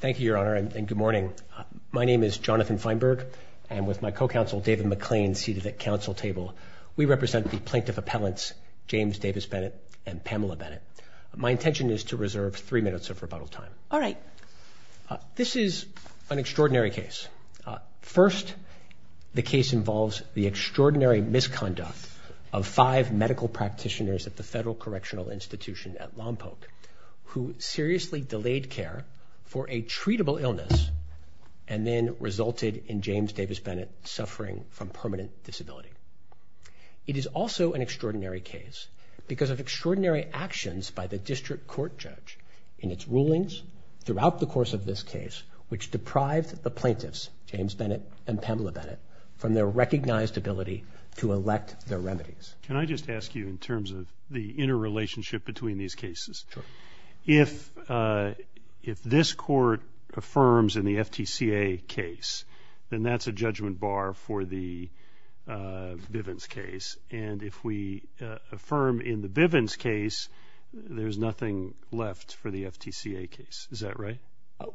Thank you, Your Honor, and good morning. My name is Jonathan Feinberg and with my co-counsel David McLean seated at council table, we represent the plaintiff appellants James Davis Bennett and Pamela Bennett. My intention is to reserve three minutes of rebuttal time. All right. This is an extraordinary case. First, the case involves the extraordinary misconduct of five medical practitioners at the Federal Correctional Institution at Lompoc who seriously delayed care for a treatable illness and then resulted in James Davis Bennett suffering from permanent disability. It is also an extraordinary case because of extraordinary actions by the district court judge in its rulings throughout the course of this case which deprived the plaintiffs, James Bennett and Pamela Bennett, from their recognized ability to elect their remedies. Can I just ask you in terms of the inner relationship between these cases, if this court affirms in the FTCA case, then that's a judgment bar for the Bivens case and if we affirm in the Bivens case, there's nothing left for the FTCA case. Is that right?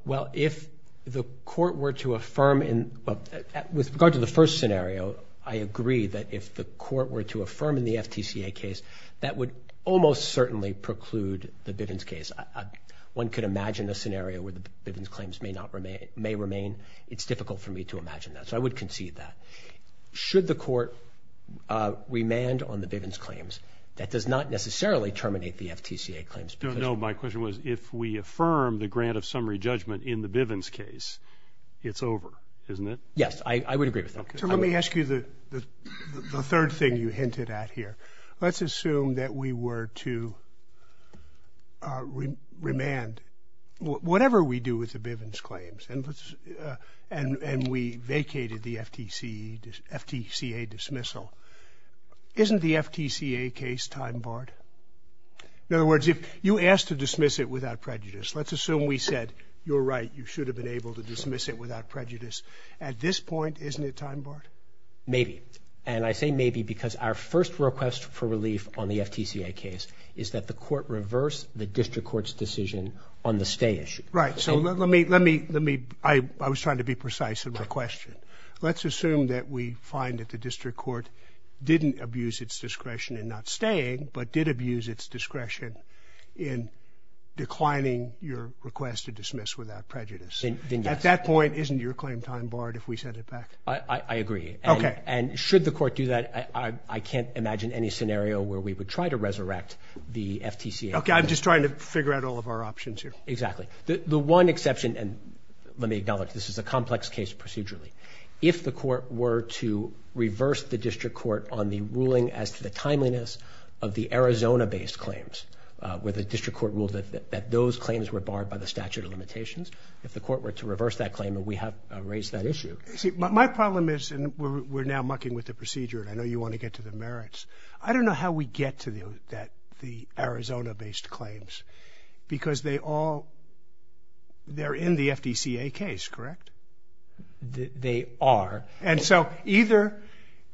Well, if the court were to affirm in with regard to the first scenario, I agree that if the court were to affirm in the FTCA case, that would almost certainly preclude the Bivens case. One could imagine a scenario where the Bivens claims may remain. It's difficult for me to imagine that, so I would concede that. Should the court remand on the Bivens claims, that does not necessarily terminate the FTCA claims. No, my question was if we affirm the grant of summary judgment in the Bivens case, it's over, isn't it? Yes, I would agree with that. Let me ask you the third thing you said. Let's assume that we were to remand, whatever we do with the Bivens claims, and we vacated the FTCA dismissal. Isn't the FTCA case time-barred? In other words, if you asked to dismiss it without prejudice, let's assume we said, you're right, you should have been able to dismiss it without prejudice. At this point, isn't it time-barred? Maybe, and I say maybe because our first request for relief on the FTCA case is that the court reverse the district court's decision on the stay issue. Right, so let me, let me, let me, I was trying to be precise in my question. Let's assume that we find that the district court didn't abuse its discretion in not staying, but did abuse its discretion in declining your request to dismiss without prejudice. At that point, isn't your claim time-barred if we set it back? I agree. Okay. And should the court do that, I can't imagine any scenario where we would try to resurrect the FTCA. Okay, I'm just trying to figure out all of our options here. Exactly. The one exception, and let me acknowledge this is a complex case procedurally, if the court were to reverse the district court on the ruling as to the timeliness of the Arizona based claims, where the district court ruled that those claims were barred by the statute of limitations, if the court were to reverse that claim, and we have raised that issue. See, my problem is, and we're now mucking with the procedure, and I know you want to get to the merits, I don't know how we get to that, the Arizona based claims, because they all, they're in the FTCA case, correct? They are. And so either,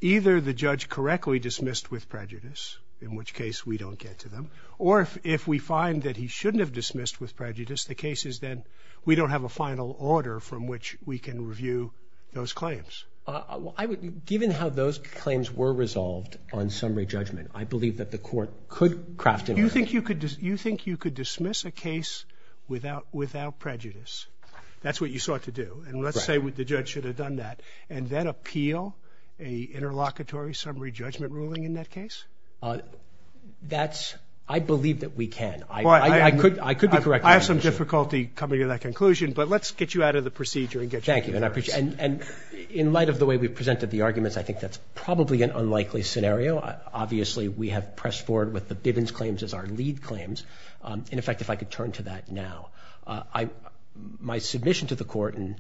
either the judge correctly dismissed with prejudice, in which case we don't get to them, or if we find that he shouldn't have dismissed with prejudice, the case is then, we don't have a final order from which we can review those claims. Well, I would, given how those claims were resolved on summary judgment, I believe that the court could craft a... You think you could, you think you could dismiss a case without, without prejudice? That's what you sought to do, and let's say what the judge should have done that, and then appeal a interlocutory summary judgment ruling in that case? That's, I believe that we can. I could, I could be correct. I have some difficulty coming to that conclusion, but let's get you out of the procedure and get... Thank you, and I appreciate, and in light of the way we've presented the arguments, I think that's probably an unlikely scenario. Obviously, we have pressed forward with the Bivens claims as our lead claims. In effect, if I could turn to that now, I, my submission to the court, and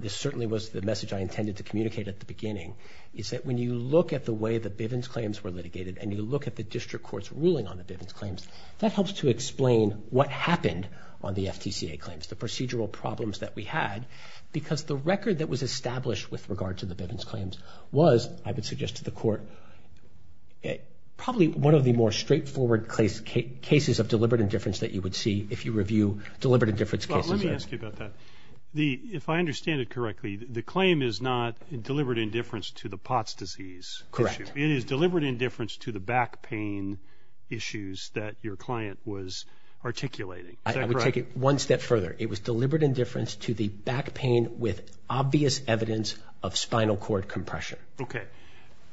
this certainly was the message I intended to communicate at the beginning, is that when you look at the way the Bivens claims were litigated, and you look at the district court's ruling on the Bivens claims, that helps to that we had, because the record that was established with regard to the Bivens claims was, I would suggest to the court, probably one of the more straightforward case, cases of deliberate indifference that you would see if you review deliberate indifference cases. Let me ask you about that. The, if I understand it correctly, the claim is not deliberate indifference to the POTS disease. Correct. It is deliberate indifference to the back pain issues that your client was articulating. I would take it one step further. It was deliberate indifference to the back pain with obvious evidence of spinal cord compression. Okay.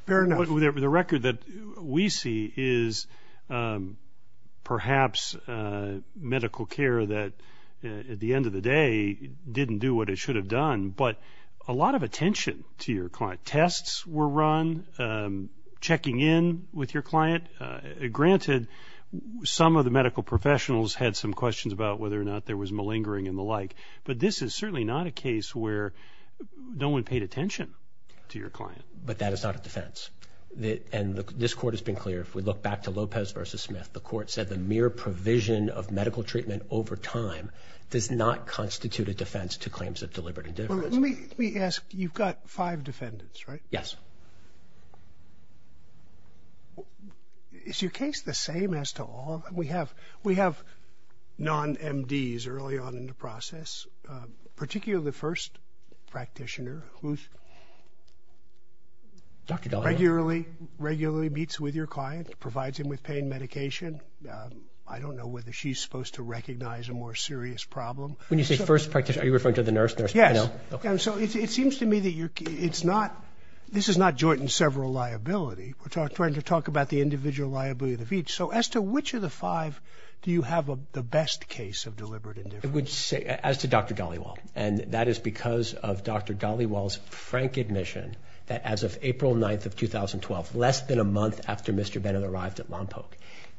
The record that we see is perhaps medical care that, at the end of the day, didn't do what it should have done, but a lot of attention to your client. Tests were run, checking in with your client. Granted, some of the medical professionals had some questions about whether or not there was malingering and but this is certainly not a case where no one paid attention to your client. But that is not a defense. The, and this court has been clear. If we look back to Lopez versus Smith, the court said the mere provision of medical treatment over time does not constitute a defense to claims of deliberate indifference. Let me ask, you've got five defendants, right? Yes. Is your case the same as to all? We have, we have non-MDs early on in the process, particularly the first practitioner who regularly meets with your client, provides him with pain medication. I don't know whether she's supposed to recognize a more serious problem. When you say first practitioner, are you referring to the nurse? Yes. So it seems to me that you're, it's not, this is not joint and several liability. We're trying to talk about the individual liability of which of the five do you have the best case of deliberate indifference? As to Dr. Dollywall, and that is because of Dr. Dollywall's frank admission that as of April 9th of 2012, less than a month after Mr. Bennett arrived at Lompoc,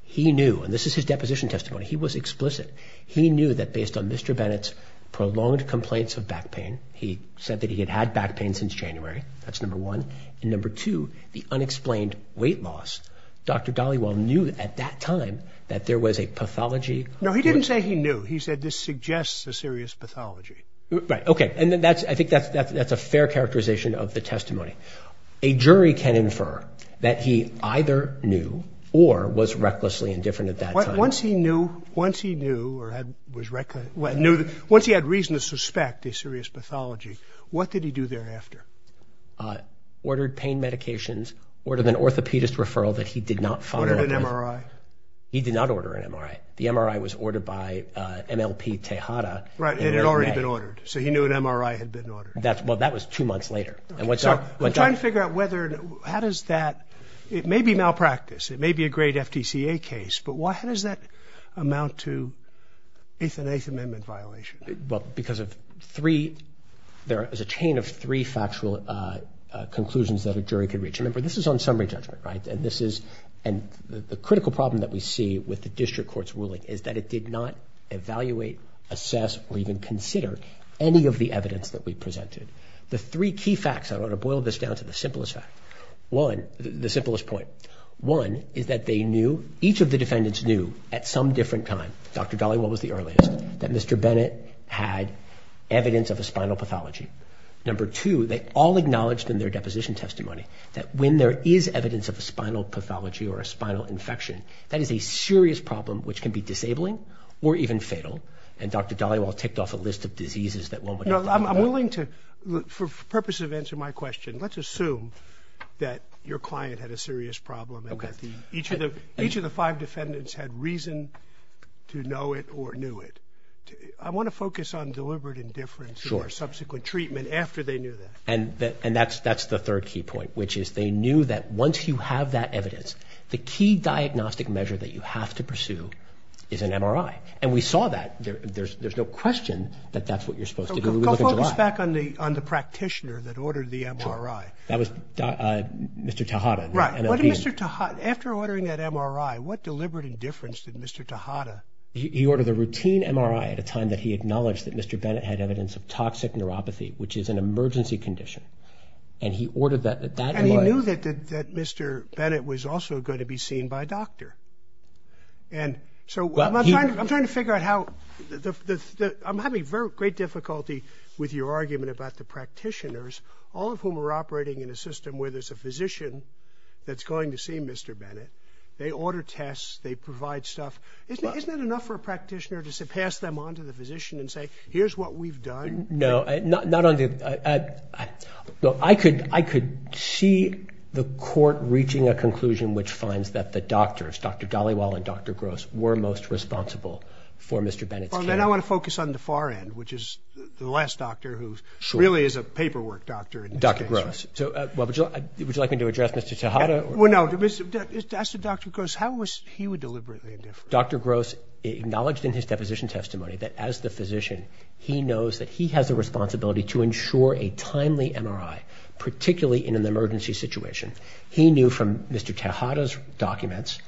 he knew, and this is his deposition testimony, he was explicit. He knew that based on Mr. Bennett's prolonged complaints of back pain, he said that he had had back pain since January. That's number one. Number two, the unexplained weight loss, Dr. Dollywall knew at that time that there was a pathology. No, he didn't say he knew. He said this suggests a serious pathology. Right, okay, and then that's, I think that's, that's a fair characterization of the testimony. A jury can infer that he either knew or was recklessly indifferent at that time. Once he knew, once he knew or had, was reckless, knew, once he had reason to suspect a serious pathology, what did he do thereafter? Ordered pain medications, ordered an orthopedist referral that he did not follow. Ordered an MRI? He did not order an MRI. The MRI was ordered by MLP Tejada. Right, it had already been ordered, so he knew an MRI had been ordered. That's, well, that was two months later. And what's up, what's up? I'm trying to figure out whether, how does that, it may be malpractice, it may be a great FTCA case, but why, how does that amount to eighth and eighth amendment violation? Well, because of three, there is a chain of three factual conclusions that a jury could reach. Remember, this is on summary judgment, right? And this is, and the critical problem that we see with the district court's ruling is that it did not evaluate, assess, or even consider any of the evidence that we presented. The three key facts, I want to boil this down to the simplest fact. One, the simplest point. One, is that they knew, each of the defendants knew, at some different time, Dr. Dollywell was the earliest, that Mr. Bennett had evidence of a spinal pathology. Number two, they all acknowledged in their deposition testimony that when there is evidence of a spinal pathology or a spinal infection, that is a serious problem which can be disabling or even fatal, and Dr. Dollywell ticked off a list of diseases that one would have to deal with. I'm willing to, for purposes of answering my question, let's assume that your client had a serious problem and that each of the, each of the five defendants had reason to know it or knew it. I want to focus on deliberate indifference or subsequent treatment after they knew that. And that's the third key point, which is they knew that once you have that evidence, the key diagnostic measure that you have to pursue is an MRI. And we saw that. There's no question that that's what you're supposed to do. Go back on the practitioner that ordered the MRI. That was Mr. Tejada. Right. After ordering that MRI, what deliberate indifference did Mr. Tejada... He ordered a routine MRI at a time that he was in emergency condition. And he ordered that MRI... And he knew that Mr. Bennett was also going to be seen by a doctor. And so I'm trying to figure out how, I'm having great difficulty with your argument about the practitioners, all of whom are operating in a system where there's a physician that's going to see Mr. Bennett. They order tests, they provide stuff. Isn't it enough for a practitioner to pass them on to the physician and say, here's what we've done? No. I could see the court reaching a conclusion which finds that the doctors, Dr. Dhaliwal and Dr. Gross, were most responsible for Mr. Bennett's care. Then I want to focus on the far end, which is the last doctor who really is a paperwork doctor. Dr. Gross. Would you like me to address Mr. Tejada? No. As to Dr. Gross, how was he deliberately indifferent? Dr. Gross acknowledged in his deposition testimony that as the physician, he knows that he has a responsibility to ensure a timely MRI, particularly in an emergency situation. He knew from Mr. Tejada's documents,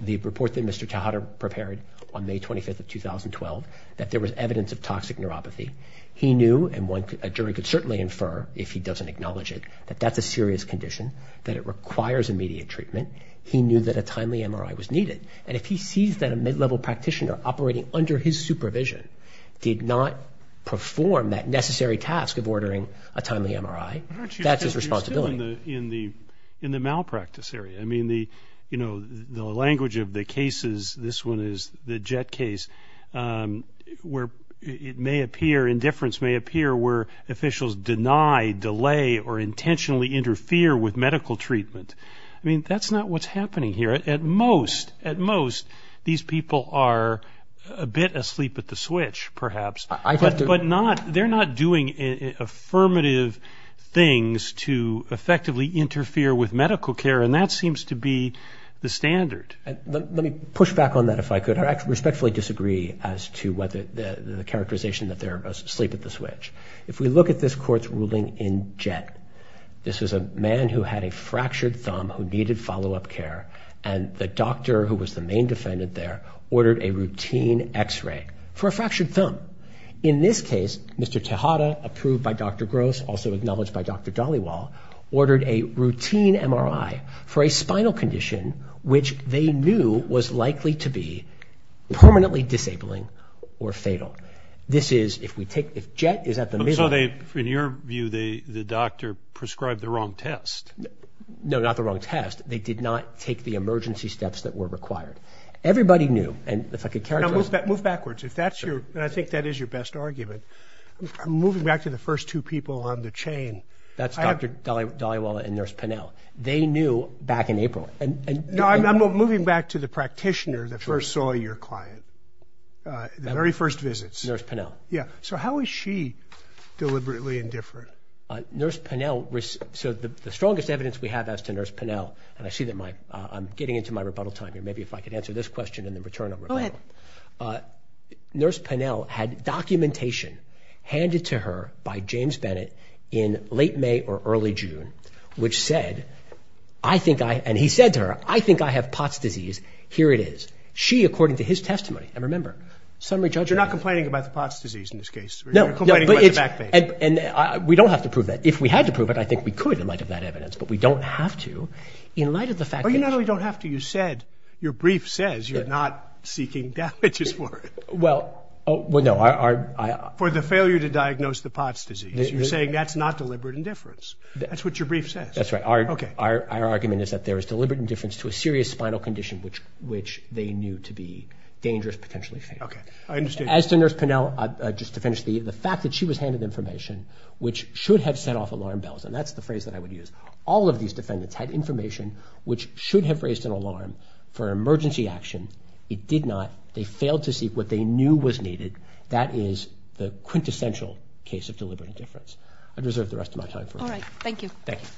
the report that Mr. Tejada prepared on May 25th of 2012, that there was evidence of toxic neuropathy. He knew, and a jury could certainly infer if he doesn't acknowledge it, that that's a serious condition, that it requires immediate treatment. He knew that a timely MRI was needed. And if he sees that a mid-level practitioner operating under his supervision did not perform that necessary task of ordering a timely MRI, that's his responsibility. In the malpractice area, I mean, the language of the cases, this one is the JET case, where it may appear, indifference may appear, where officials deny, delay, or intentionally interfere with medical treatment. I mean, that's not what's happening here. At most, at most, these people are a bit asleep at the switch, perhaps. But they're not doing affirmative things to effectively interfere with medical care, and that seems to be the standard. Let me push back on that, if I could. I respectfully disagree as to the characterization that they're asleep at the switch. If we look at this court's ruling in JET, this is a man who had a fractured thumb, who needed follow-up care, and the doctor, who was the main defendant there, ordered a routine X-ray for a fractured thumb. In this case, Mr. Tejada, approved by Dr. Gross, also acknowledged by Dr. Dhaliwal, ordered a routine MRI for a spinal condition, which they knew was likely to be permanently disabling or fatal. This is, if we take, if JET is at the middle... So they, in your view, the doctor prescribed the wrong test. No, not the wrong test. They did not take the emergency steps that were required. Everybody knew, and if I could characterize... Now, move backwards. If that's your, and I think that is your best argument, I'm moving back to the first two people on the chain. That's Dr. Dhaliwal and Nurse Pennell. They knew back in April, and... No, I'm moving back to the practitioner that first saw your client, the very first visits. Nurse Pennell. Yeah. So how is she deliberately indifferent? Nurse Pennell, so the strongest evidence we have as to Nurse Pennell, and I see that my, I'm getting into my rebuttal time here, maybe if I could answer this question and then return on rebuttal. Go ahead. Nurse Pennell had documentation handed to her by James Bennett in late May or early June, which said, I think I, and he said to her, I think I have POTS disease. Here it is. She, according to his testimony, and remember, summary judgment... You're not complaining about the POTS disease in this case. No, but it's, and we don't have to prove that. If we had to prove it, I think we could in light of that evidence, but we don't have to in light of the fact... Oh, you not only don't have to, you said, your brief says you're not seeking damages for it. Well, oh, well, no, I, I... For the failure to diagnose the POTS disease. You're saying that's not deliberate indifference. That's what your brief says. That's right. Okay. Our, our argument is that there is deliberate indifference to a serious spinal condition which, which they knew to be dangerous, potentially fatal. Okay. I understand. As to Nurse Pennell, just to finish, the, the fact that she was handed information which should have set off alarm bells, and that's the phrase that I would use. All of these defendants had information which should have raised an alarm for emergency action. It did not. They failed to seek what they knew was needed. That is the quintessential case of deliberate indifference. I'd reserve the rest of my time for it. All right. Thank you. Thank you.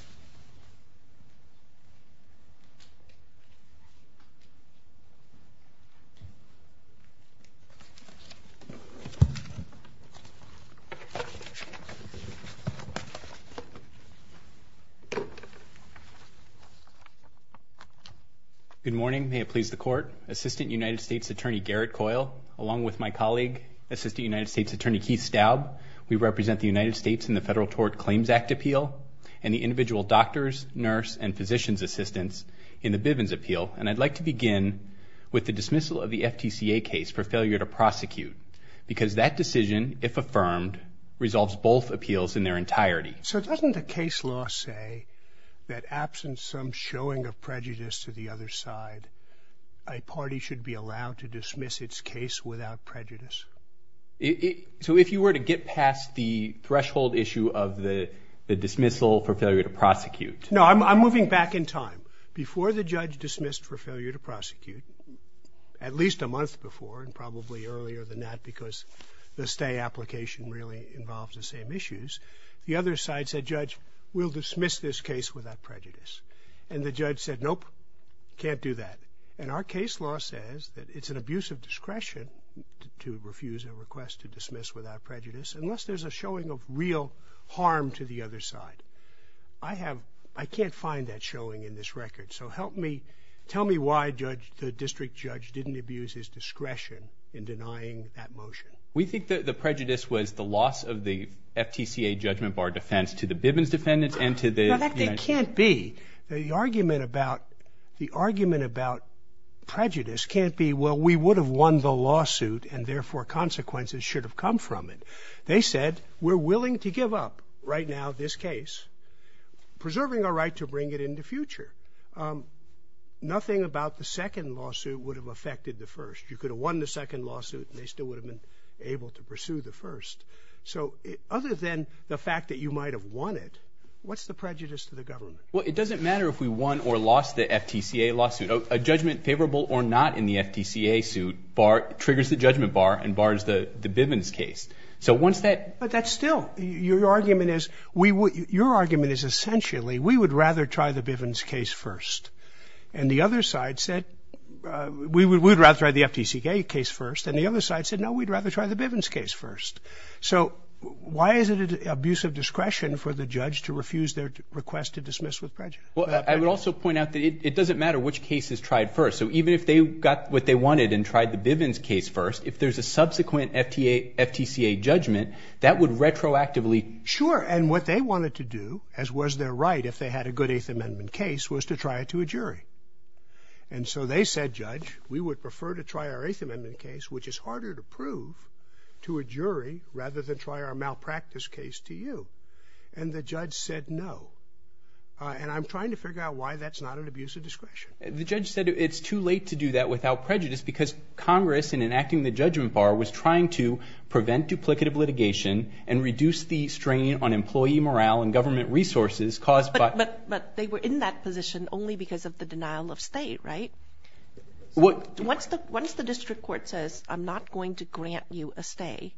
Good morning. May it please the Court. Assistant United States Attorney Garrett Coyle, along with my colleague, Assistant United States Attorney Keith Staub, we represent the United States in the Federal Tort Claims Act appeal, and the individual doctors, nurse, and physicians assistants in the Bivens appeal, and I'd like to begin with the dismissal of the FTCA case for failure to prosecute, because that decision, if affirmed, resolves both appeals in their entirety. So doesn't the case law say that absent some showing of prejudice to the other side, a party should be allowed to dismiss its case without prejudice. It, so if you were to get past the threshold issue of the, the dismissal for failure to prosecute. No, I'm moving back in time. Before the judge dismissed for failure to prosecute, at least a month before, and probably earlier than that because the stay application really involves the same issues, the other side said, Judge, we'll dismiss this case without prejudice. And the judge said, Nope, can't do that. And our case law says that it's an abuse of discretion to refuse a request to dismiss without prejudice, unless there's a showing of real harm to the other side. I have, I can't find that showing in this record, so help me, tell me why, Judge, the district judge didn't abuse his discretion in denying that motion. We think that the prejudice was the loss of the FTCA judgment bar defense to the Bivens defendants and to the- No, that can't be. The argument about, the argument about prejudice can't be, well, we would have won the lawsuit and therefore consequences should have come from it. They said, we're willing to give up, right now, this case, preserving our right to bring it in the future. Nothing about the second lawsuit would have affected the first. You could have won the second lawsuit and they still would have been able to pursue the first. So, other than the fact that you might have won it, what's the prejudice to the government? Well, it doesn't matter if we won or lost the FTCA lawsuit. A judgment favorable or not in the FTCA suit triggers the judgment bar and bars the Bivens case. So once that- But that's still, your argument is, we would, your argument is essentially, we would rather try the Bivens case first. And the other side said, we would rather try the FTCA case first. And the other side said, no, we'd rather try the Bivens case first. So, why is it an abuse of discretion for the judge to refuse their request to dismiss with prejudice? Well, I would also point out that it doesn't matter which case is tried first. So, even if they got what they wanted and tried the Bivens case first, if there's a subsequent FTA, FTCA judgment, that would retroactively- Sure, and what they wanted to do, as was their right if they had a good Eighth Amendment case, was to try it to a jury. And so they said, Judge, we would prefer to try our Eighth Amendment case, which is harder to prove to a jury, rather than try our malpractice case to you. And the judge said, no. And I'm trying to figure out why that's not an abuse of discretion. The judge said it's too late to do that without prejudice, because Congress, in enacting the judgment bar, was trying to prevent duplicative litigation and reduce the strain on employee morale and government resources caused by- But they were in that position only because of the denial of stay, right? What- Once the District Court says, I'm not going to grant you a stay,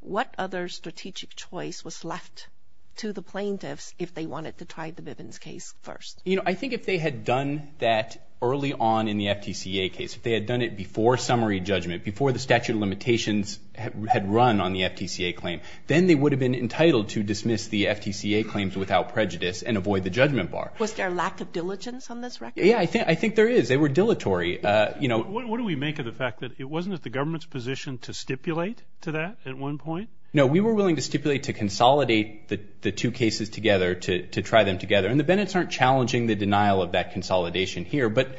what other strategic choice was left to the plaintiffs if they wanted to try the Bivens case first? You know, I think if they had done that early on in the FTCA case, if they had done it before summary judgment, before the statute of limitations had run on the FTCA claim, then they would have been entitled to dismiss the FTCA claims without prejudice and avoid the judgment bar. Was there lack of diligence on this record? Yeah, I think there is. They were dilatory. You know- What do we make of the fact that it wasn't at the government's position to stipulate to that at one point? No, we were willing to stipulate to consolidate the two cases together, to try them together. And the Bivens aren't challenging the denial of that consolidation here, but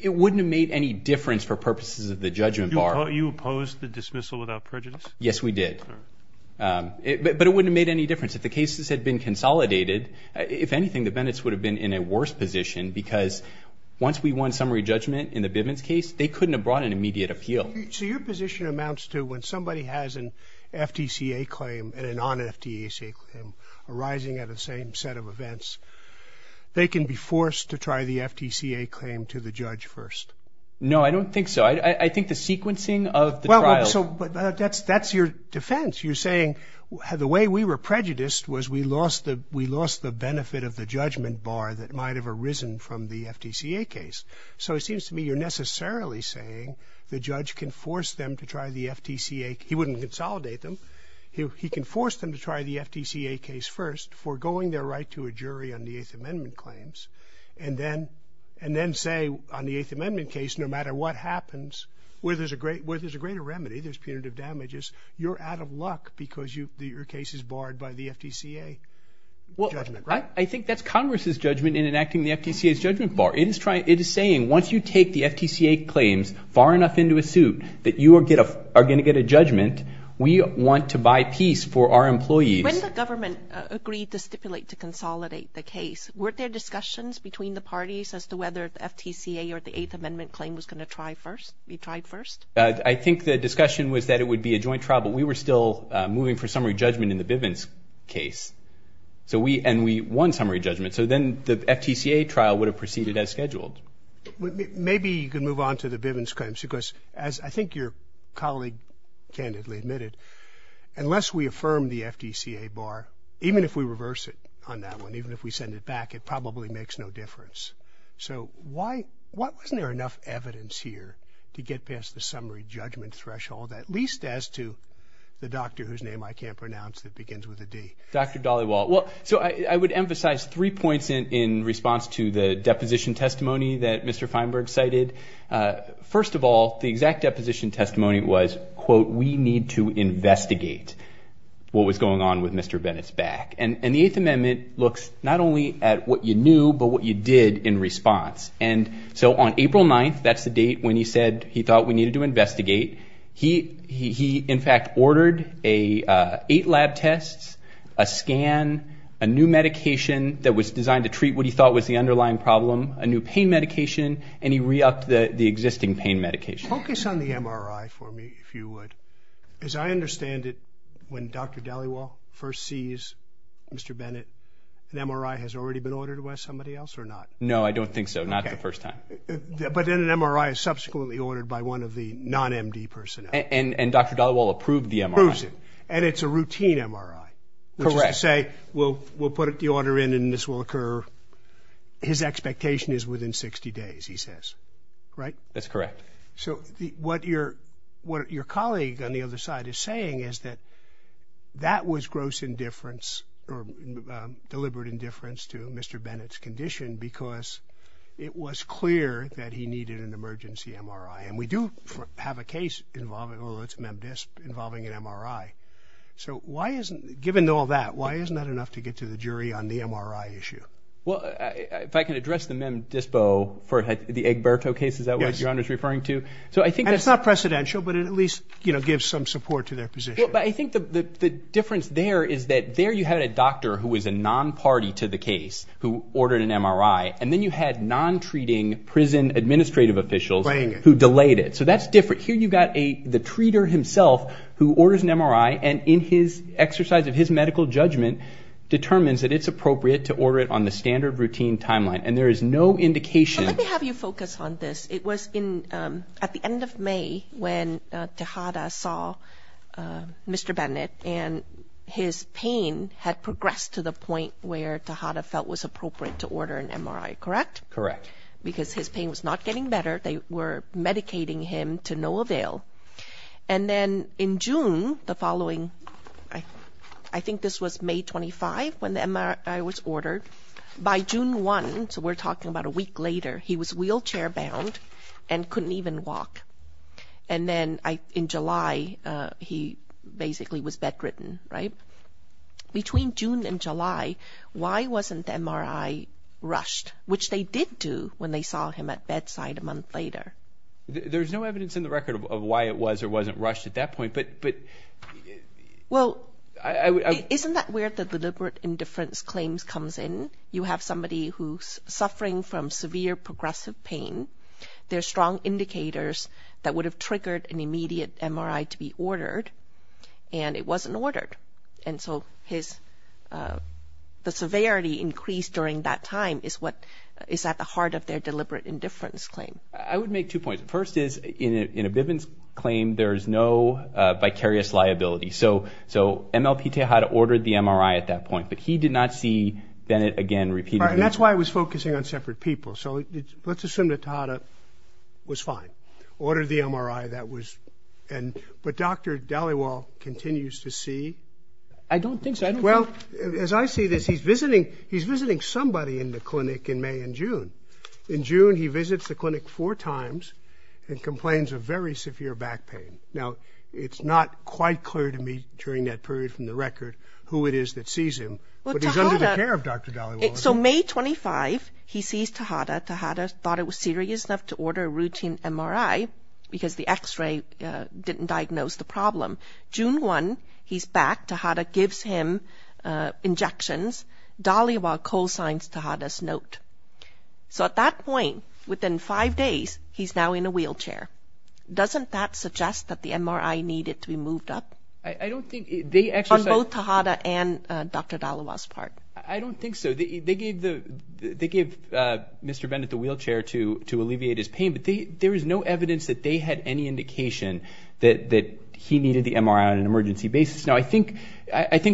it wouldn't have made any difference for purposes of the judgment bar. You opposed the dismissal without prejudice? Yes, we did. But it wouldn't have made any difference. If the cases had been consolidated, if anything, the Bivens would have been in a worse position because once we won summary judgment in the Bivens case, they couldn't have brought an immediate appeal. So your position amounts to when somebody has an FTCA claim and a non-FTCA claim arising at the same set of events, they can be forced to try the FTCA claim to the judge first? No, I don't think so. I think the sequencing of the trial- Well, so that's your defense. You're saying the way we were prejudiced was we lost the benefit of the judgment bar that might have arisen from the FTCA case. So it seems to me you're necessarily saying the judge can force them to try the FTCA. He wouldn't consolidate them. He can force them to try the FTCA case first, foregoing their right to a jury on the Eighth Amendment claims, and then say on the Eighth Amendment case, no matter what happens, where there's a greater remedy, there's punitive damages, you're out of luck because your case is barred by the FTCA judgment. Well, I think that's Congress's judgment in enacting the FTCA's judgment bar. It is saying once you take the FTCA claims far enough into a suit that you are going to get a judgment, we want to buy peace for our employees. When the government agreed to stipulate to consolidate the case, were there discussions between the parties as to whether the FTCA or the Eighth Amendment claim was going to try first, be tried first? I think the discussion was that it would be a joint trial, but we were still moving for summary judgment in the Bivens case. So we, and we won summary judgment. So then the FTCA trial would have proceeded as scheduled. Maybe you can move on to the Bivens claims, because as I think your colleague candidly admitted, unless we affirm the FTCA bar, even if we reverse it on that one, even if we send it back, it probably makes no difference. So why, wasn't there enough evidence here to get past the summary judgment threshold, at least as to the doctor whose name I can't pronounce that begins with a D? Dr. Dhaliwal, well, so I would emphasize three points in response to the deposition testimony that Mr. Feinberg cited. First of all, the exact deposition testimony was, quote, we need to investigate what was going on with Mr. Bennett's back. And the Eighth Amendment looks not only at what you knew, but what you did in response. And so on April 9th, that's the date when he said he thought we needed to investigate, he in fact ordered eight lab tests, a scan, a new medication that was designed to treat what he thought was the underlying problem, a new pain medication, and he re-upped the existing pain medication. Focus on the MRI for me, if you would. As I understand it, when Dr. Dhaliwal first sees Mr. Bennett, an MRI has already been ordered by somebody else or not? No, I don't think so. Not the first time. But then an MRI is subsequently ordered by one of the non-MD personnel. And Dr. Dhaliwal approved the MRI. Approves it. And it's a routine MRI. Correct. Which is to say, we'll put the order in and this will What your colleague on the other side is saying is that that was gross indifference or deliberate indifference to Mr. Bennett's condition because it was clear that he needed an emergency MRI. And we do have a case involving, well it's MEM-DISP, involving an MRI. So why isn't, given all that, why isn't that enough to get to the jury on the MRI issue? Well, if I can address the And it's not precedential, but it at least, you know, gives some support to their position. But I think the difference there is that there you had a doctor who was a non-party to the case who ordered an MRI, and then you had non-treating prison administrative officials who delayed it. So that's different. Here you got the treater himself who orders an MRI and in his exercise of his medical judgment, determines that it's appropriate to order it on the standard routine timeline. And there is no indication. Let have you focus on this. It was at the end of May when Tejada saw Mr. Bennett and his pain had progressed to the point where Tejada felt was appropriate to order an MRI, correct? Correct. Because his pain was not getting better. They were medicating him to no avail. And then in June, the following, I think this was May 25 when the MRI was ordered. By June 1, so we're talking about a week later, he was wheelchair-bound and couldn't even walk. And then in July, he basically was bedridden, right? Between June and July, why wasn't the MRI rushed? Which they did do when they saw him at bedside a month later. There's no evidence in the record of why it was or wasn't rushed at that point, but... Well, isn't that where the deliberate indifference claims comes in? You have somebody who's suffering from severe progressive pain. There's strong indicators that would have triggered an immediate MRI to be ordered, and it wasn't ordered. And so the severity increased during that time is at the heart of their deliberate indifference claim. I would make two points. First is, in a Bivens claim, there's no vicarious liability. So MLP Tejada ordered the MRI at that point, but he did not see Bennett again repeatedly. And that's why I was focusing on separate people. So let's assume that Tejada was fine. Ordered the MRI, that was... But Dr. Dhaliwal continues to see... I don't think so. Well, as I see this, he's visiting somebody in the clinic in May and June. In June, he visits the clinic four times and complains of very severe back pain. Now, it's not quite clear to me during that period from the record who it is that sees Tejada. Tejada thought it was serious enough to order a routine MRI, because the x-ray didn't diagnose the problem. June 1, he's back. Tejada gives him injections. Dhaliwal co-signs Tejada's note. So at that point, within five days, he's now in a wheelchair. Doesn't that suggest that the MRI needed to be moved up? I don't think... On both Tejada and Dr. Dhaliwal's part. I don't think so. They gave Mr. Bennett the wheelchair to alleviate his pain, but there is no evidence that they had any indication that he needed the MRI on an emergency basis. Now, I think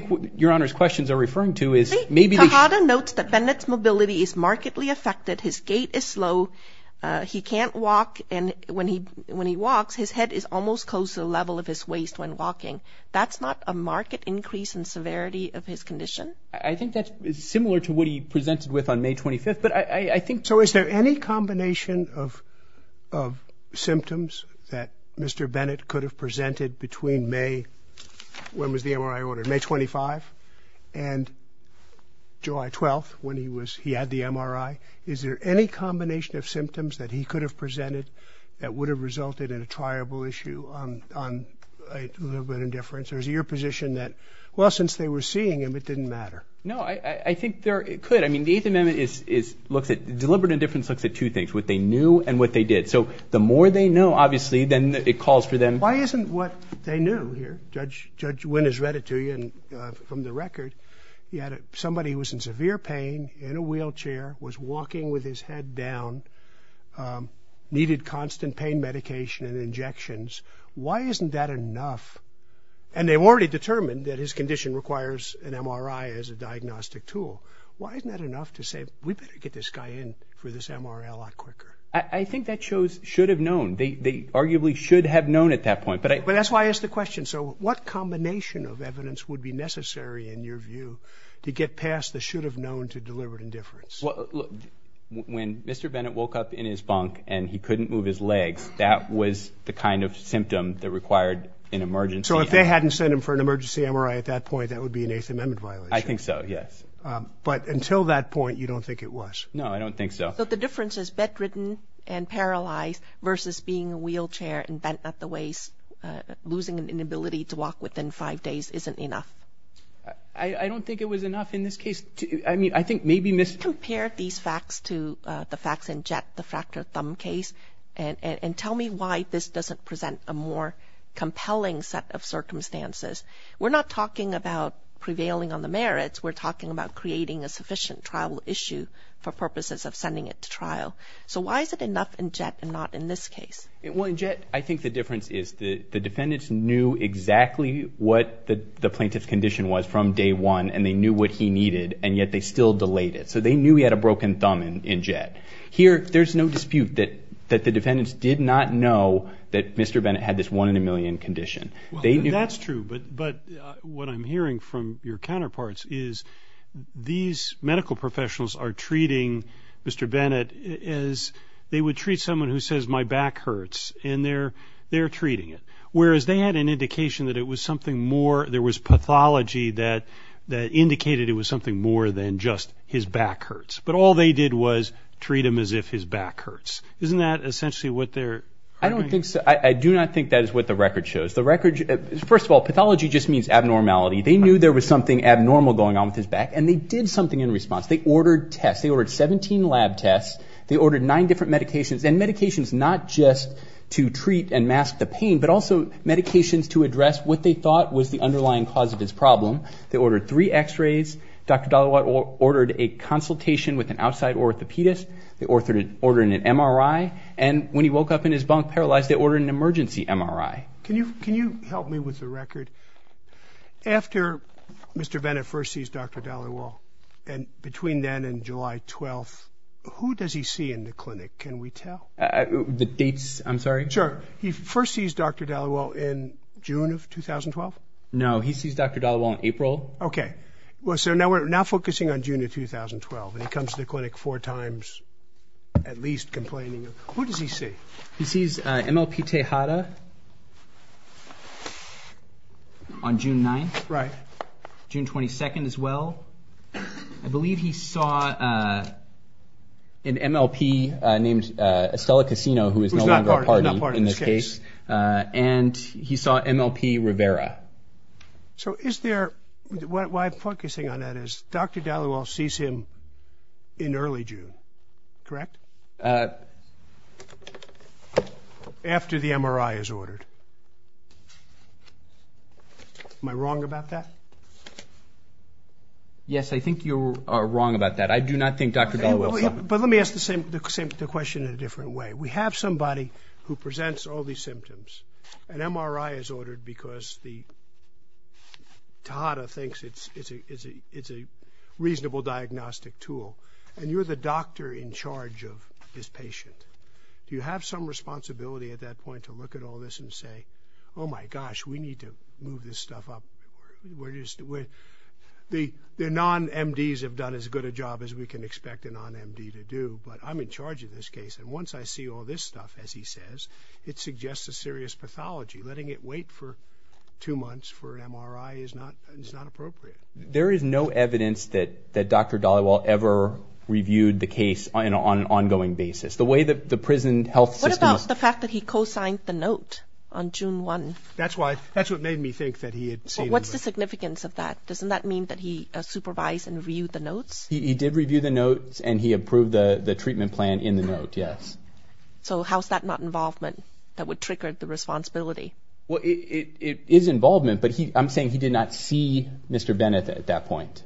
what Your Honor's questions are referring to is maybe... Tejada notes that Bennett's mobility is markedly affected. His gait is slow. He can't walk, and when he walks, his head is almost close to the level of his waist when walking. That's not a marked increase in severity of his mobility presented with on May 25th, but I think... So is there any combination of symptoms that Mr. Bennett could have presented between May... When was the MRI ordered? May 25th and July 12th, when he had the MRI. Is there any combination of symptoms that he could have presented that would have resulted in a triable issue on a little bit of indifference? Or is it your position that, since they were seeing him, it didn't matter? No, I think there could. I mean, the Eighth Amendment looks at... Deliberate indifference looks at two things, what they knew and what they did. So the more they know, obviously, then it calls for them... Why isn't what they knew here... Judge Wynn has read it to you from the record. He had somebody who was in severe pain, in a wheelchair, was walking with his head down, needed constant pain medication and injections. Why isn't that enough? And they've already determined that his condition requires an MRI as a diagnostic tool. Why isn't that enough to say, we better get this guy in for this MRI a lot quicker? I think that shows should have known. They arguably should have known at that point, but I... But that's why I asked the question. So what combination of evidence would be necessary, in your view, to get past the should have known to deliberate indifference? Well, when Mr. Bennett woke up in his bunk and he couldn't move his legs, that was the kind of symptom that required an emergency... So if they hadn't sent him for an emergency MRI at that point, that would be an Eighth Amendment violation? I think so, yes. But until that point, you don't think it was? No, I don't think so. So the difference is bedridden and paralyzed versus being a wheelchair and bent at the waist, losing an inability to walk within five days isn't enough? I don't think it was enough in this case. I mean, I think maybe... Compare these facts to the facts in Jett, the fractured thumb case, and tell me why this doesn't present a more compelling set of circumstances. We're not talking about prevailing on the merits. We're talking about creating a sufficient trial issue for purposes of sending it to trial. So why is it enough in Jett and not in this case? Well, in Jett, I think the difference is the defendants knew exactly what the plaintiff's condition was from day one, and they knew what he needed, and yet they still Here, there's no dispute that the defendants did not know that Mr. Bennett had this one-in-a-million condition. That's true, but what I'm hearing from your counterparts is these medical professionals are treating Mr. Bennett as they would treat someone who says, my back hurts, and they're treating it. Whereas they had an indication that it was something more, there was pathology that indicated it was something more than just his back hurts, but all they did was treat him as if his back hurts. Isn't that essentially what they're... I don't think so. I do not think that is what the record shows. The record, first of all, pathology just means abnormality. They knew there was something abnormal going on with his back, and they did something in response. They ordered tests. They ordered 17 lab tests. They ordered nine different medications, and medications not just to treat and mask the pain, but also medications to address what they thought was the underlying cause of his with an outside orthopedist. They ordered an MRI, and when he woke up in his bunk paralyzed, they ordered an emergency MRI. Can you help me with the record? After Mr. Bennett first sees Dr. Dhaliwal, and between then and July 12th, who does he see in the clinic? Can we tell? The dates, I'm sorry? Sure. He first sees Dr. Dhaliwal in June of 2012? No, he sees Dr. Dhaliwal in April. Okay, well so now focusing on June of 2012, and he comes to the clinic four times, at least complaining. Who does he see? He sees MLP Tejada on June 9th. Right. June 22nd as well. I believe he saw an MLP named Estella Casino, who is no longer a party in this case, and he saw MLP Rivera. So is there, what I'm focusing on that is, Dr. Dhaliwal sees him in early June, correct? After the MRI is ordered. Am I wrong about that? Yes, I think you are wrong about that. I do not think Dr. Dhaliwal... But let me ask the same question in a different way. We have somebody who presents all these symptoms. An MRI is ordered because Tejada thinks it's a reasonable diagnostic tool, and you're the doctor in charge of this patient. Do you have some responsibility at that point to look at all this and say, oh my gosh, we need to move this stuff up. The non-MDs have done as good a job as we can expect a non-MD to do, but I'm in charge of this case, and once I see all this stuff, as he says, it suggests a serious pathology. Letting it wait for two months for an MRI is not appropriate. There is no evidence that Dr. Dhaliwal ever reviewed the case on an ongoing basis. The way that the prison health system... What about the fact that he co-signed the note on June 1? That's why, that's what made me think that he had seen... What's the significance of that? Doesn't that mean that he supervised and reviewed the notes? He did review the note, yes. So how's that not involvement that would trigger the responsibility? Well, it is involvement, but I'm saying he did not see Mr. Bennett at that point.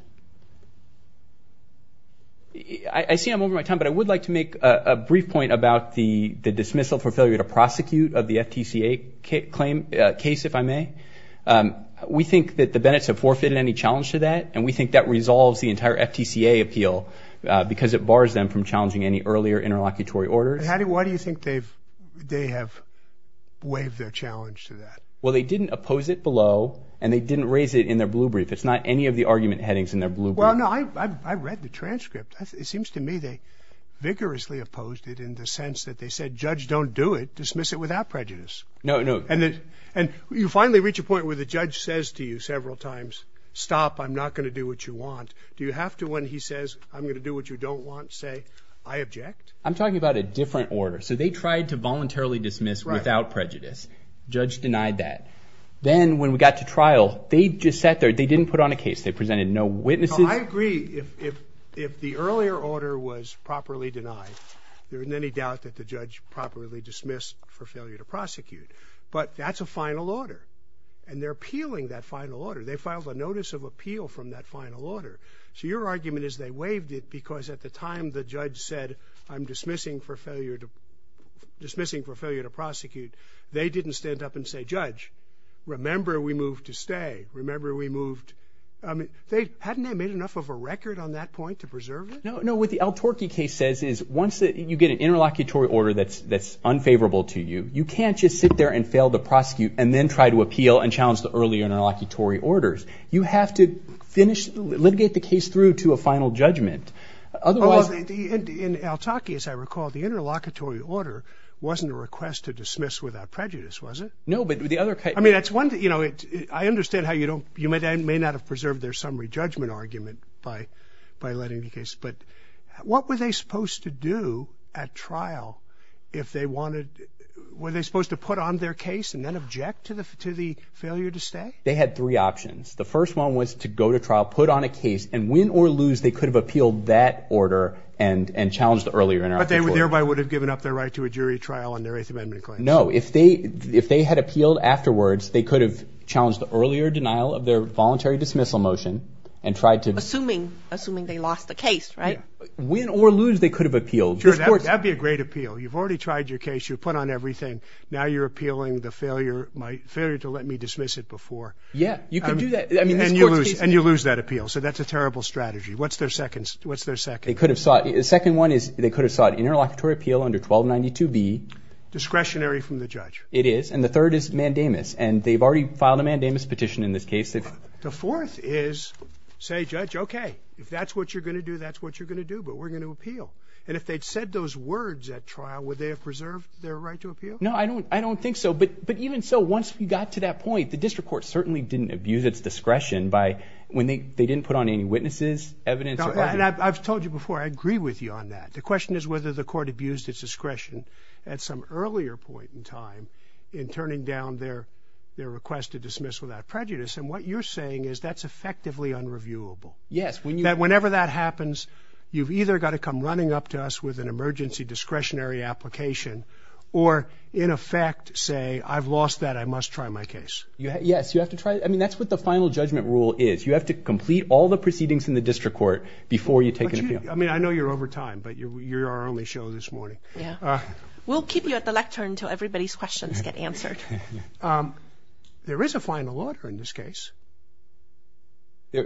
I see I'm over my time, but I would like to make a brief point about the dismissal for failure to prosecute of the FTCA case, if I may. We think that the Bennett's have forfeited any challenge to that, and we think that resolves the entire FTCA appeal because it bars them from challenging any earlier interlocutory orders. Why do you think they have waived their challenge to that? Well, they didn't oppose it below, and they didn't raise it in their blue brief. It's not any of the argument headings in their blue brief. Well, no, I read the transcript. It seems to me they vigorously opposed it in the sense that they said, Judge, don't do it. Dismiss it without prejudice. No, no. And you finally reach a point where the judge says to you several times, stop. I'm not going to do what you want. Do you have to, when he says, I'm going to do what you don't want, say, I object? I'm talking about a different order. So they tried to voluntarily dismiss without prejudice. Judge denied that. Then when we got to trial, they just sat there. They didn't put on a case. They presented no witnesses. I agree. If the earlier order was properly denied, there isn't any doubt that the judge properly dismissed for failure to prosecute. But that's a final order, and they're appealing that final order. They filed a notice of appeal from that final order. So your argument is they waived it because at the time the judge said, I'm dismissing for failure to, dismissing for failure to prosecute, they didn't stand up and say, Judge, remember we moved to stay. Remember we moved. I mean, they, hadn't they made enough of a record on that point to preserve it? No, no. What the El Torque case says is once that you get an interlocutory order that's, that's unfavorable to you, you can't just sit there and fail to prosecute and then try to appeal and challenge the earlier interlocutory orders. You have to finish, litigate the case through to a final judgment. Otherwise... In El Torque, as I recall, the interlocutory order wasn't a request to dismiss without prejudice, was it? No, but the other... I mean, that's one thing, you know, it, I understand how you don't, you may not have preserved their summary judgment argument by, by letting the case, but what were they supposed to do at trial if they wanted, were they supposed to put on their case and then object to the, to the failure to stay? They had three options. The first one was to go to trial, put on a case, and win or lose, they could have appealed that order and, and challenged the earlier interlocutory order. But they thereby would have given up their right to a jury trial on their Eighth Amendment claim. No, if they, if they had appealed afterwards, they could have challenged the earlier denial of their voluntary dismissal motion and tried to... Assuming, assuming they lost the case, right? Win or lose, they could have appealed. Sure, that'd be a great appeal. You've already tried your case, you've put on everything, now you're appealing the failure, my, failure to let me dismiss it before. Yeah, you can do that, I mean, this court's case... And you lose, and you lose that appeal, so that's a terrible strategy. What's their second, what's their second? They could have sought, the second one is, they could have sought interlocutory appeal under 1292B. Discretionary from the judge. It is, and the third is mandamus, and they've already filed a mandamus petition in this case. The fourth is, say, judge, okay, if that's what you're gonna do, that's what you're gonna do, but we're gonna appeal. And if they'd said those words at trial, would they have preserved their right to appeal? No, I don't, I don't think so, but, but even so, once we got to that point, the district court certainly didn't abuse its discretion by, when they, they didn't put on any witnesses, evidence... And I've told you before, I agree with you on that. The question is whether the court abused its discretion at some earlier point in time in turning down their, their request to dismiss without prejudice, and what you're saying is that's effectively unreviewable. Yes, when you... That whenever that happens, you've either got to come running up to us with an emergency discretionary application, or, in effect, say, I've lost that, I must try my case. Yes, you have to try it. I mean, that's what the final judgment rule is. You have to complete all the proceedings in the district court before you take an appeal. I mean, I know you're over time, but you're our only show this morning. Yeah, we'll keep you at the lectern until everybody's questions get answered. There is a final order in this case.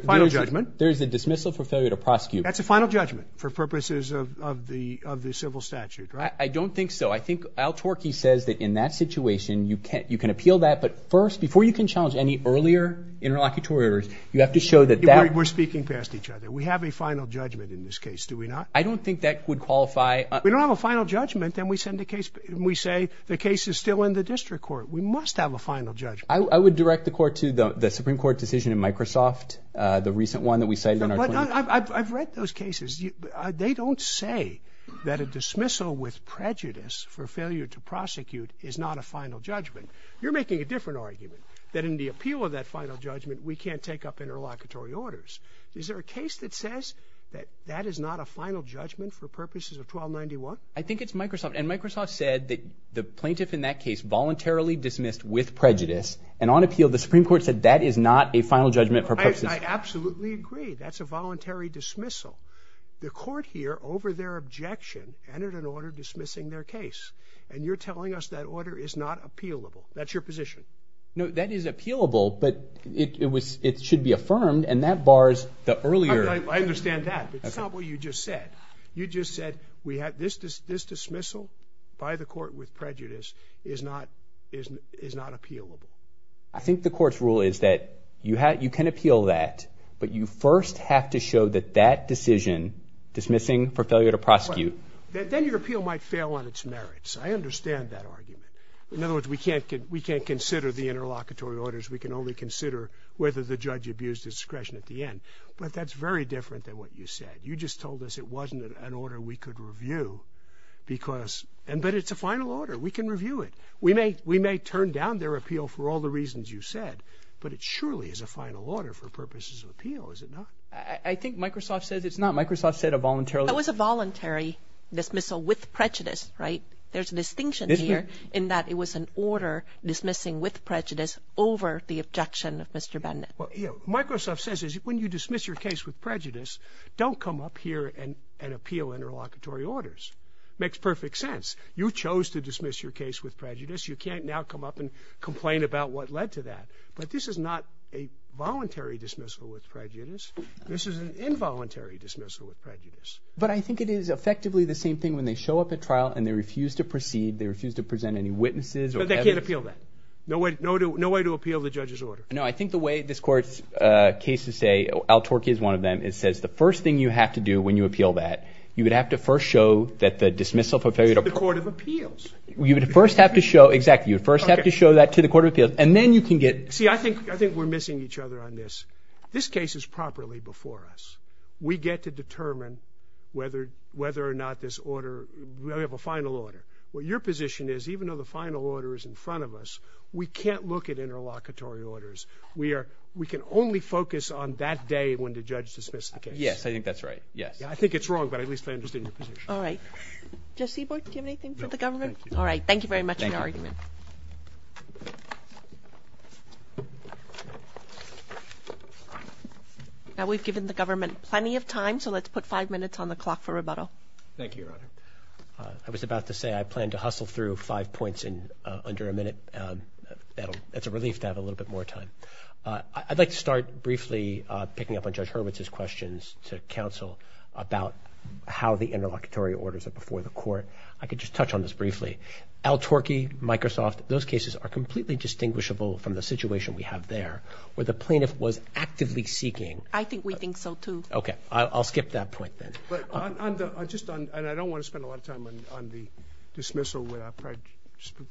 Final judgment. There's a dismissal for failure to prosecute. That's a final judgment for purposes of, of the, of the civil statute, right? I don't think so. I think Al Torky says that in that situation, you can, you can appeal that, but first, before you can challenge any earlier interlocutors, you have to show that that... We're speaking past each other. We have a final judgment in this case, do we not? I don't think that would qualify... We don't have a final judgment, then we send the case, we say the case is still in the district court. We must have a final judgment. I would direct the court to the Supreme Court decision in that case. They don't say that a dismissal with prejudice for failure to prosecute is not a final judgment. You're making a different argument, that in the appeal of that final judgment, we can't take up interlocutory orders. Is there a case that says that that is not a final judgment for purposes of 1291? I think it's Microsoft, and Microsoft said that the plaintiff in that case voluntarily dismissed with prejudice, and on appeal, the Supreme Court said that is not a voluntary dismissal. The court here, over their objection, entered an order dismissing their case, and you're telling us that order is not appealable. That's your position? No, that is appealable, but it should be affirmed, and that bars the earlier... I understand that, but it's not what you just said. You just said we have this dismissal by the court with prejudice is not appealable. I think the court's rule is that you can appeal that, but you first have to show that that decision, dismissing for failure to prosecute... Then your appeal might fail on its merits. I understand that argument. In other words, we can't consider the interlocutory orders. We can only consider whether the judge abused discretion at the end, but that's very different than what you said. You just told us it wasn't an order we could review, but it's a final order. We can review it. We may turn down their appeal for all the reasons you said, but it surely is a voluntary dismissal. I think Microsoft says it's not. Microsoft said a voluntary... It was a voluntary dismissal with prejudice, right? There's a distinction here in that it was an order dismissing with prejudice over the objection of Mr. Bennett. Microsoft says when you dismiss your case with prejudice, don't come up here and appeal interlocutory orders. It makes perfect sense. You chose to dismiss your case with prejudice. You can't now come up and complain about what led to that, but this is not a voluntary dismissal with prejudice. This is an involuntary dismissal with prejudice. But I think it is effectively the same thing when they show up at trial and they refuse to proceed. They refuse to present any witnesses or evidence. But they can't appeal that. No way to appeal the judge's order. No, I think the way this court's cases say, Al-Turki is one of them, it says the first thing you have to do when you appeal that, you would have to first show that the dismissal for failure to... To the Court of Appeals. You would first have to show... Exactly. You would first have to show that to the Court of Appeals, and then you can get... See, I think we're missing each other on this. This case is properly before us. We get to determine whether or not this order... We have a final order. What your position is, even though the final order is in front of us, we can't look at interlocutory orders. We are... We can only focus on that day when the judge dismisses the case. Yes, I think that's right. Yes. Yeah, I think it's wrong, but at least I understand your position. Alright. Jesse Boyd, do you have anything for the government? No, thank you. Alright, thank you very much for your argument. Now, we've given the government plenty of time, so let's put five minutes on the clock for rebuttal. Thank you, Your Honor. I was about to say I plan to hustle through five points in under a minute. It's a relief to have a little bit more time. I'd like to start briefly picking up on Judge Hurwitz's questions to counsel about how the interlocutory orders are before the court. I could just touch on this briefly. Al-Turki, Microsoft, those cases are completely distinguishable from the situation we have there, where the plaintiff was actively seeking I think we think so, too. Okay, I'll skip that point, then. And I don't wanna spend a lot of time on the dismissal without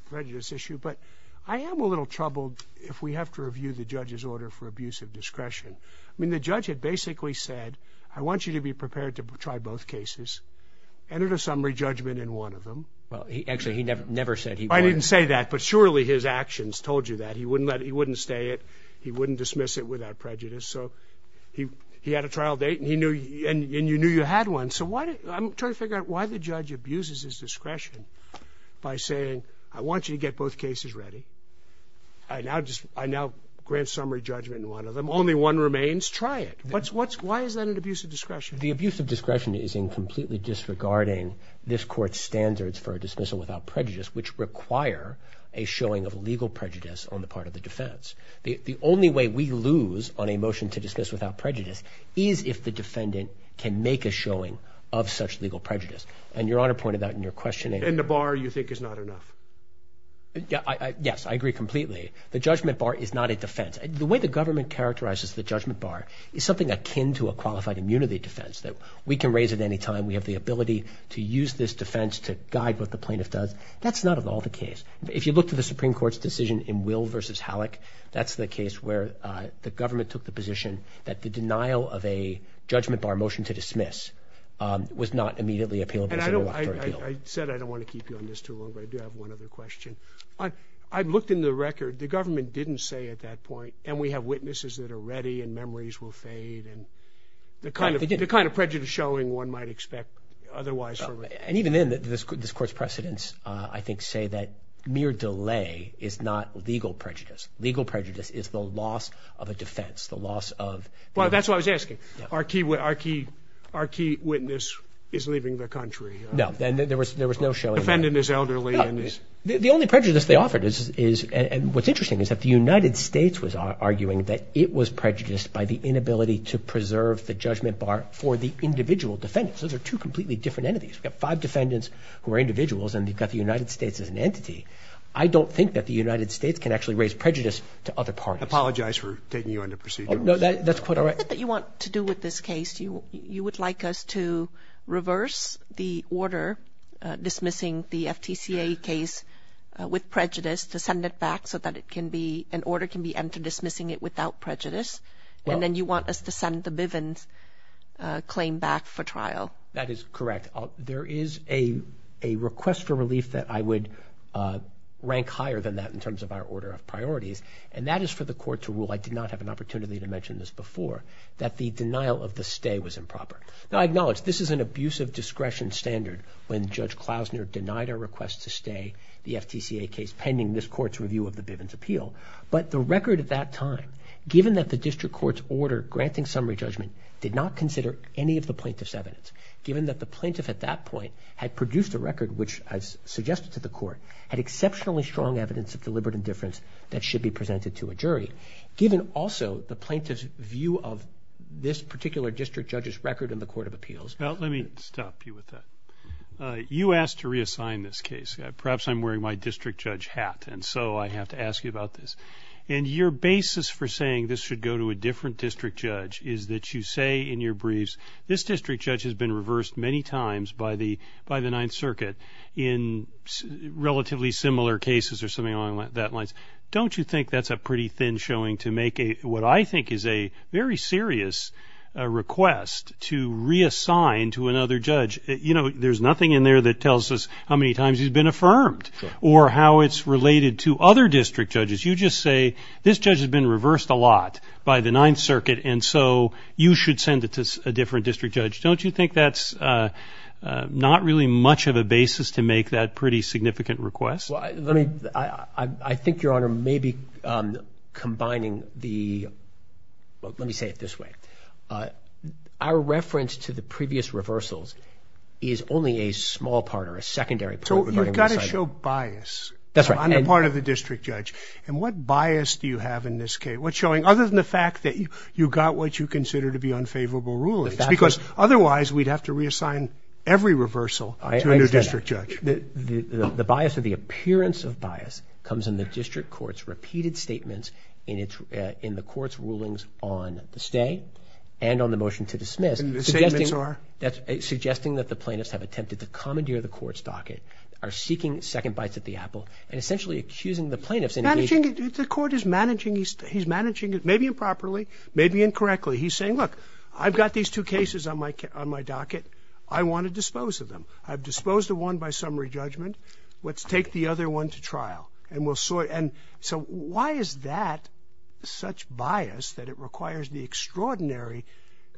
prejudice issue, but I am a little troubled if we have to review the judge's order for abusive discretion. The judge had basically said, I want you to be prepared to try both cases, entered a summary judgment in one of them. Well, actually, he never said he would. I didn't say that, but surely his actions told you that. He wouldn't stay it. He wouldn't dismiss it without prejudice. So he had a trial date and you knew you had one. So I'm trying to figure out why the judge abuses his discretion by saying, I want you to get both cases ready. I now grant summary judgment in one of them. Only one remains. Try it. Why is that an abuse of discretion? The abuse of discretion is in completely disregarding this court's standards for a dismissal without prejudice, which require a showing of legal prejudice on the part of the defense. The only way we lose on a motion to dismiss without prejudice is if the defendant can make a showing of such legal prejudice. And Your Honor pointed that in your questioning. And the bar you think is not enough? Yes, I agree completely. The judgment bar is not a defense. The way the government characterizes the judgment bar is something akin to a qualified immunity defense that we can raise at any time. We have the ability to use this defense to guide what the plaintiff does. That's not at all the case. If you look to the Supreme Court's decision in Will v. Halleck, that's the case where the government took the position that the denial of a judgment bar motion to dismiss was not immediately appealable. And I said I don't wanna keep you on this too long, but I do have one other question. I've looked in the record. The government didn't say at that point, and we have witnesses that are ready and memories will fade, and the kind of prejudice showing one might expect otherwise. And even then, this Court's precedents, I think, say that mere delay is not legal prejudice. Legal prejudice is the loss of a defense, the loss of... Well, that's what I was asking. Our key witness is leaving the country. No, there was no showing... The defendant is elderly and is... The only prejudice they offered is... And what's interesting is that the United States was arguing that it was prejudiced by the inability to preserve the judgment bar for the individual defendants. Those are two completely different entities. We've got five defendants who are individuals, and we've got the United States as an entity. I don't think that the United States can actually raise prejudice to other parties. I apologize for taking you on the procedure. No, that's quite all right. What is it that you want to do with this case? You would like us to reverse the order dismissing the FTCA case with prejudice, to send it back so that it can be... An order can be entered dismissing it without prejudice, and then you want us to send the Bivens claim back for trial. That is correct. There is a request for relief that I would rank higher than that in terms of our order of priorities, and that is for the court to rule, I did not have an opportunity to mention this before, that the denial of the stay was improper. Now, I acknowledge this is an abuse of discretion standard when Judge Klausner denied our request to stay the FTCA case pending this court's review of the Bivens appeal, but the record at that time, given that the district court's order granting summary judgment did not consider any of the plaintiff's evidence, given that the plaintiff at that point had produced a record, which I've suggested to the court, had exceptionally strong evidence of deliberate indifference that should be presented to a jury, given also the plaintiff's view of this particular district judge's record in the court of appeals. Now, let me stop you with that. You asked to reassign this case. Perhaps I'm wearing my district judge hat, and so I have to ask you about this. And your basis for saying this should go to a different district judge is that you say in your briefs, this district judge has been reversed many times by the Ninth Circuit in relatively similar cases or something along that lines. Don't you think that's a pretty thin showing to make what I think is a very serious request to reassign to another judge? There's nothing in there that tells us how many times he's been affirmed or how it's related to other district judges. You just say, this judge has been reversed a lot by the Ninth Circuit, and so you should send it to a different district judge. Don't you think that's not really much of a basis to make that pretty significant request? Well, I think, Your Honor, maybe combining the... Let me say it this way. Our reference to the previous reversals is only a small part or a secondary part. So you've got to show bias. That's right. On the part of the district judge. And what bias do you have in this case? What's showing, other than the fact that you got what you consider to be unfavorable rulings? Because otherwise, we'd have to reassign every reversal to a new district judge. I understand that. The bias or the appearance of bias comes in the district court's repeated statements in the court's rulings on the stay and on the motion to dismiss. And the statements are? Suggesting that the plaintiffs have attempted to commandeer the court's docket, are seeking second bites at the apple, and essentially accusing the plaintiffs in engaging... The court is managing... He's managing it maybe improperly, maybe incorrectly. He's saying, look, I've got these two cases on my docket. I wanna dispose of them. I've disposed of one by summary judgment. Let's take the other one to trial. And we'll sort... And so why is that such bias that it requires the extraordinary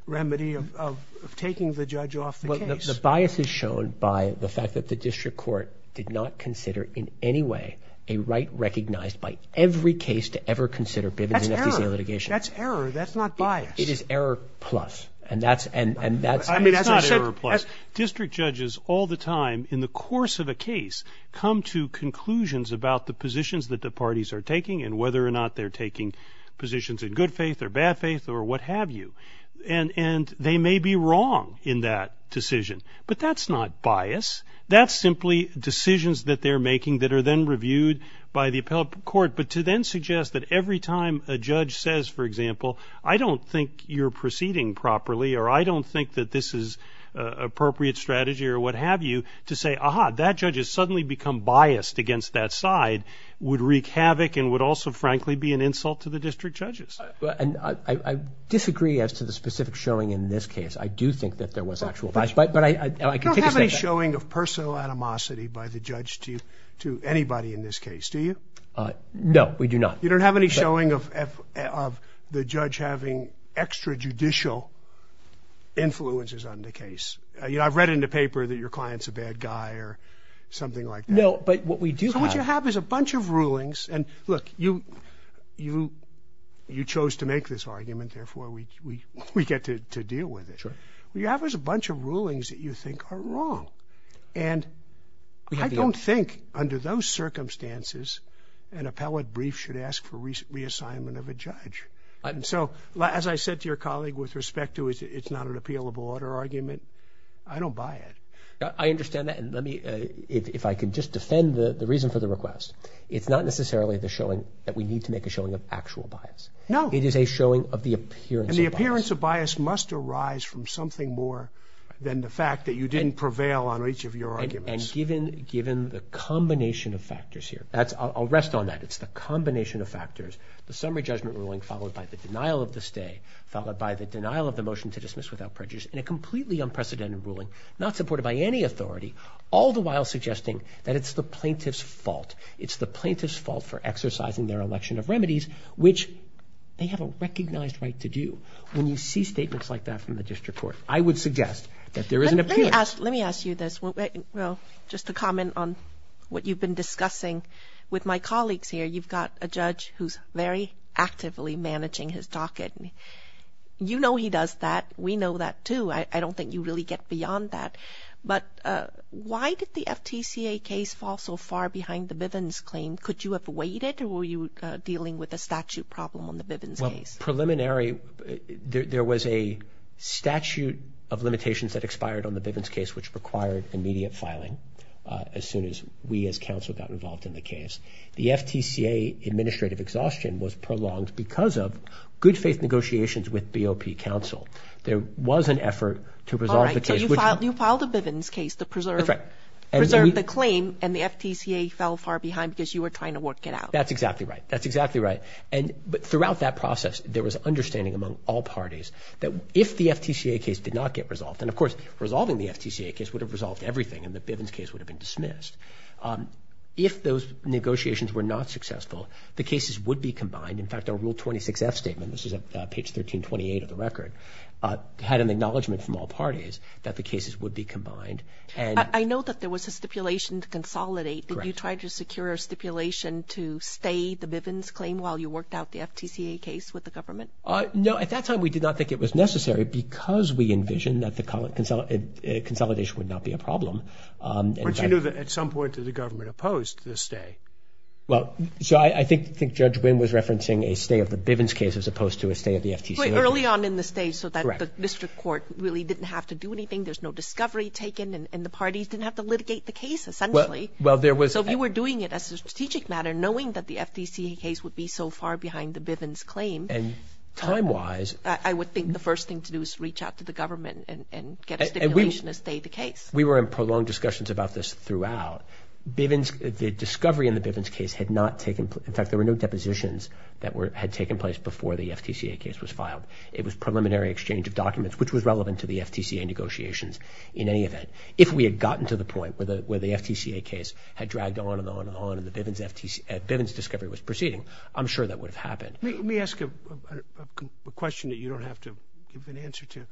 remedy of taking the judge off the case? The bias is shown by the fact that the district court did not consider in any way a right recognized by every case to ever consider... That's error. That's error. That's not bias. It is error plus. And that's... It's not error plus. District judges all the time in the course of a case come to conclusions about the positions that the parties are taking and whether or not they're taking positions in good faith or bad faith or what have you. And they may be wrong in that decision, but that's not bias. That's simply decisions that they're making that are then reviewed by the appellate court. But to then suggest that every time a judge says, for example, I don't think you're proceeding properly, or I don't think that this is appropriate strategy or what have you, to say, aha, that judge has suddenly become biased against that side would wreak havoc and would also, frankly, be an insult to the district judges. And I disagree as to the specific showing in this case. I do think that there was actual bias, but I... You don't have any showing of personal animosity by the judge to anybody in this case, do you? No, we do not. You don't have any showing of the judge having extra judicial influences on the case? I've read in the paper that your client's a bad guy or something like that. No, but what we do have... So what you have is a bunch of rulings, and look, you chose to make this argument, therefore we get to deal with it. Sure. What you have is a show. And I don't think, under those circumstances, an appellate brief should ask for reassignment of a judge. So as I said to your colleague with respect to it's not an appealable order argument, I don't buy it. I understand that, and let me... If I could just defend the reason for the request, it's not necessarily the showing that we need to make a showing of actual bias. No. It is a showing of the appearance of bias. And the appearance of bias must arise from something more than the fact that you didn't prevail on each of your arguments. And given the combination of factors here, I'll rest on that, it's the combination of factors. The summary judgment ruling followed by the denial of the stay, followed by the denial of the motion to dismiss without prejudice, and a completely unprecedented ruling, not supported by any authority, all the while suggesting that it's the plaintiff's fault. It's the plaintiff's fault for exercising their election of remedies, which they have a recognized right to do. When you see statements like that from the plaintiffs, I would suggest that there is an appearance. Let me ask you this. Just to comment on what you've been discussing with my colleagues here, you've got a judge who's very actively managing his docket. You know he does that. We know that too. I don't think you really get beyond that. But why did the FTCA case fall so far behind the Bivens claim? Could you have waited, or were you dealing with a statute problem on the Bivens case? Well, preliminary, there was a statute of limitations that expired on the Bivens case, which required immediate filing as soon as we as counsel got involved in the case. The FTCA administrative exhaustion was prolonged because of good faith negotiations with BOP counsel. There was an effort to preserve the case. You filed a Bivens case to preserve the claim, and the FTCA fell far behind because you were trying to work it out. That's exactly right. That's exactly right. But throughout that process, there was understanding among all parties that the Bivens case would have been resolved. And of course, resolving the FTCA case would have resolved everything, and the Bivens case would have been dismissed. If those negotiations were not successful, the cases would be combined. In fact, our Rule 26F statement, this is on page 1328 of the record, had an acknowledgment from all parties that the cases would be combined. I know that there was a stipulation to consolidate. Correct. Did you try to secure a stipulation to stay the Bivens claim while you worked out the FTCA case with the government? No. At that time, we did not think it was necessary because we envisioned that the consolidation would not be a problem. But you knew that at some point, the government opposed the stay. Well, so I think Judge Wynn was referencing a stay of the Bivens case as opposed to a stay of the FTCA. Early on in the stay so that the district court really didn't have to do anything. There's no discovery taken, and the parties didn't have to litigate the case, essentially. So if you were doing it as a strategic matter, knowing that the FTCA case would be so far behind the Bivens claim, I would think the first thing to do is reach out to the government and get a stipulation to stay the case. We were in prolonged discussions about this throughout. The discovery in the Bivens case had not taken... In fact, there were no depositions that had taken place before the FTCA case was filed. It was preliminary exchange of documents, which was relevant to the FTCA negotiations in any event. If we had gotten to the point where the FTCA case had dragged on and on and on and the Bivens discovery was proceeding, I'm sure that would have been... Let me ask a question that you don't have to give an answer to.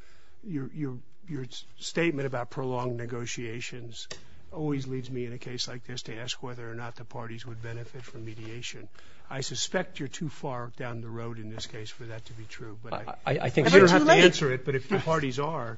Your statement about prolonged negotiations always leads me in a case like this to ask whether or not the parties would benefit from mediation. I suspect you're too far down the road in this case for that to be true, but... I think... You don't have to answer it, but if the parties are,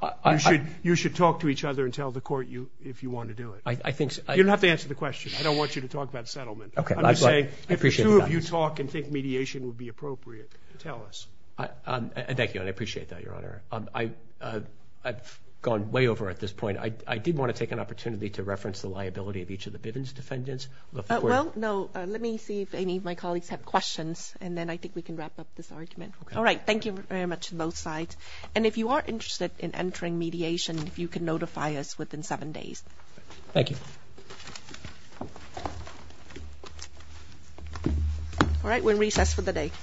you should talk to each other and tell the court if you wanna do it. I think... You don't have to answer the question. I don't want you to talk about settlement. Okay. I'm just saying if the two of you talk and think mediation would be appropriate, tell us. Thank you, and I appreciate that, Your Honor. I've gone way over at this point. I did wanna take an opportunity to reference the liability of each of the Bivens defendants. Well, no. Let me see if any of my colleagues have questions, and then I think we can wrap up this argument. Okay. Alright. Thank you very much on both sides. And if you are interested in entering mediation, if you can notify us at this time. Alright. We're in recess for the day.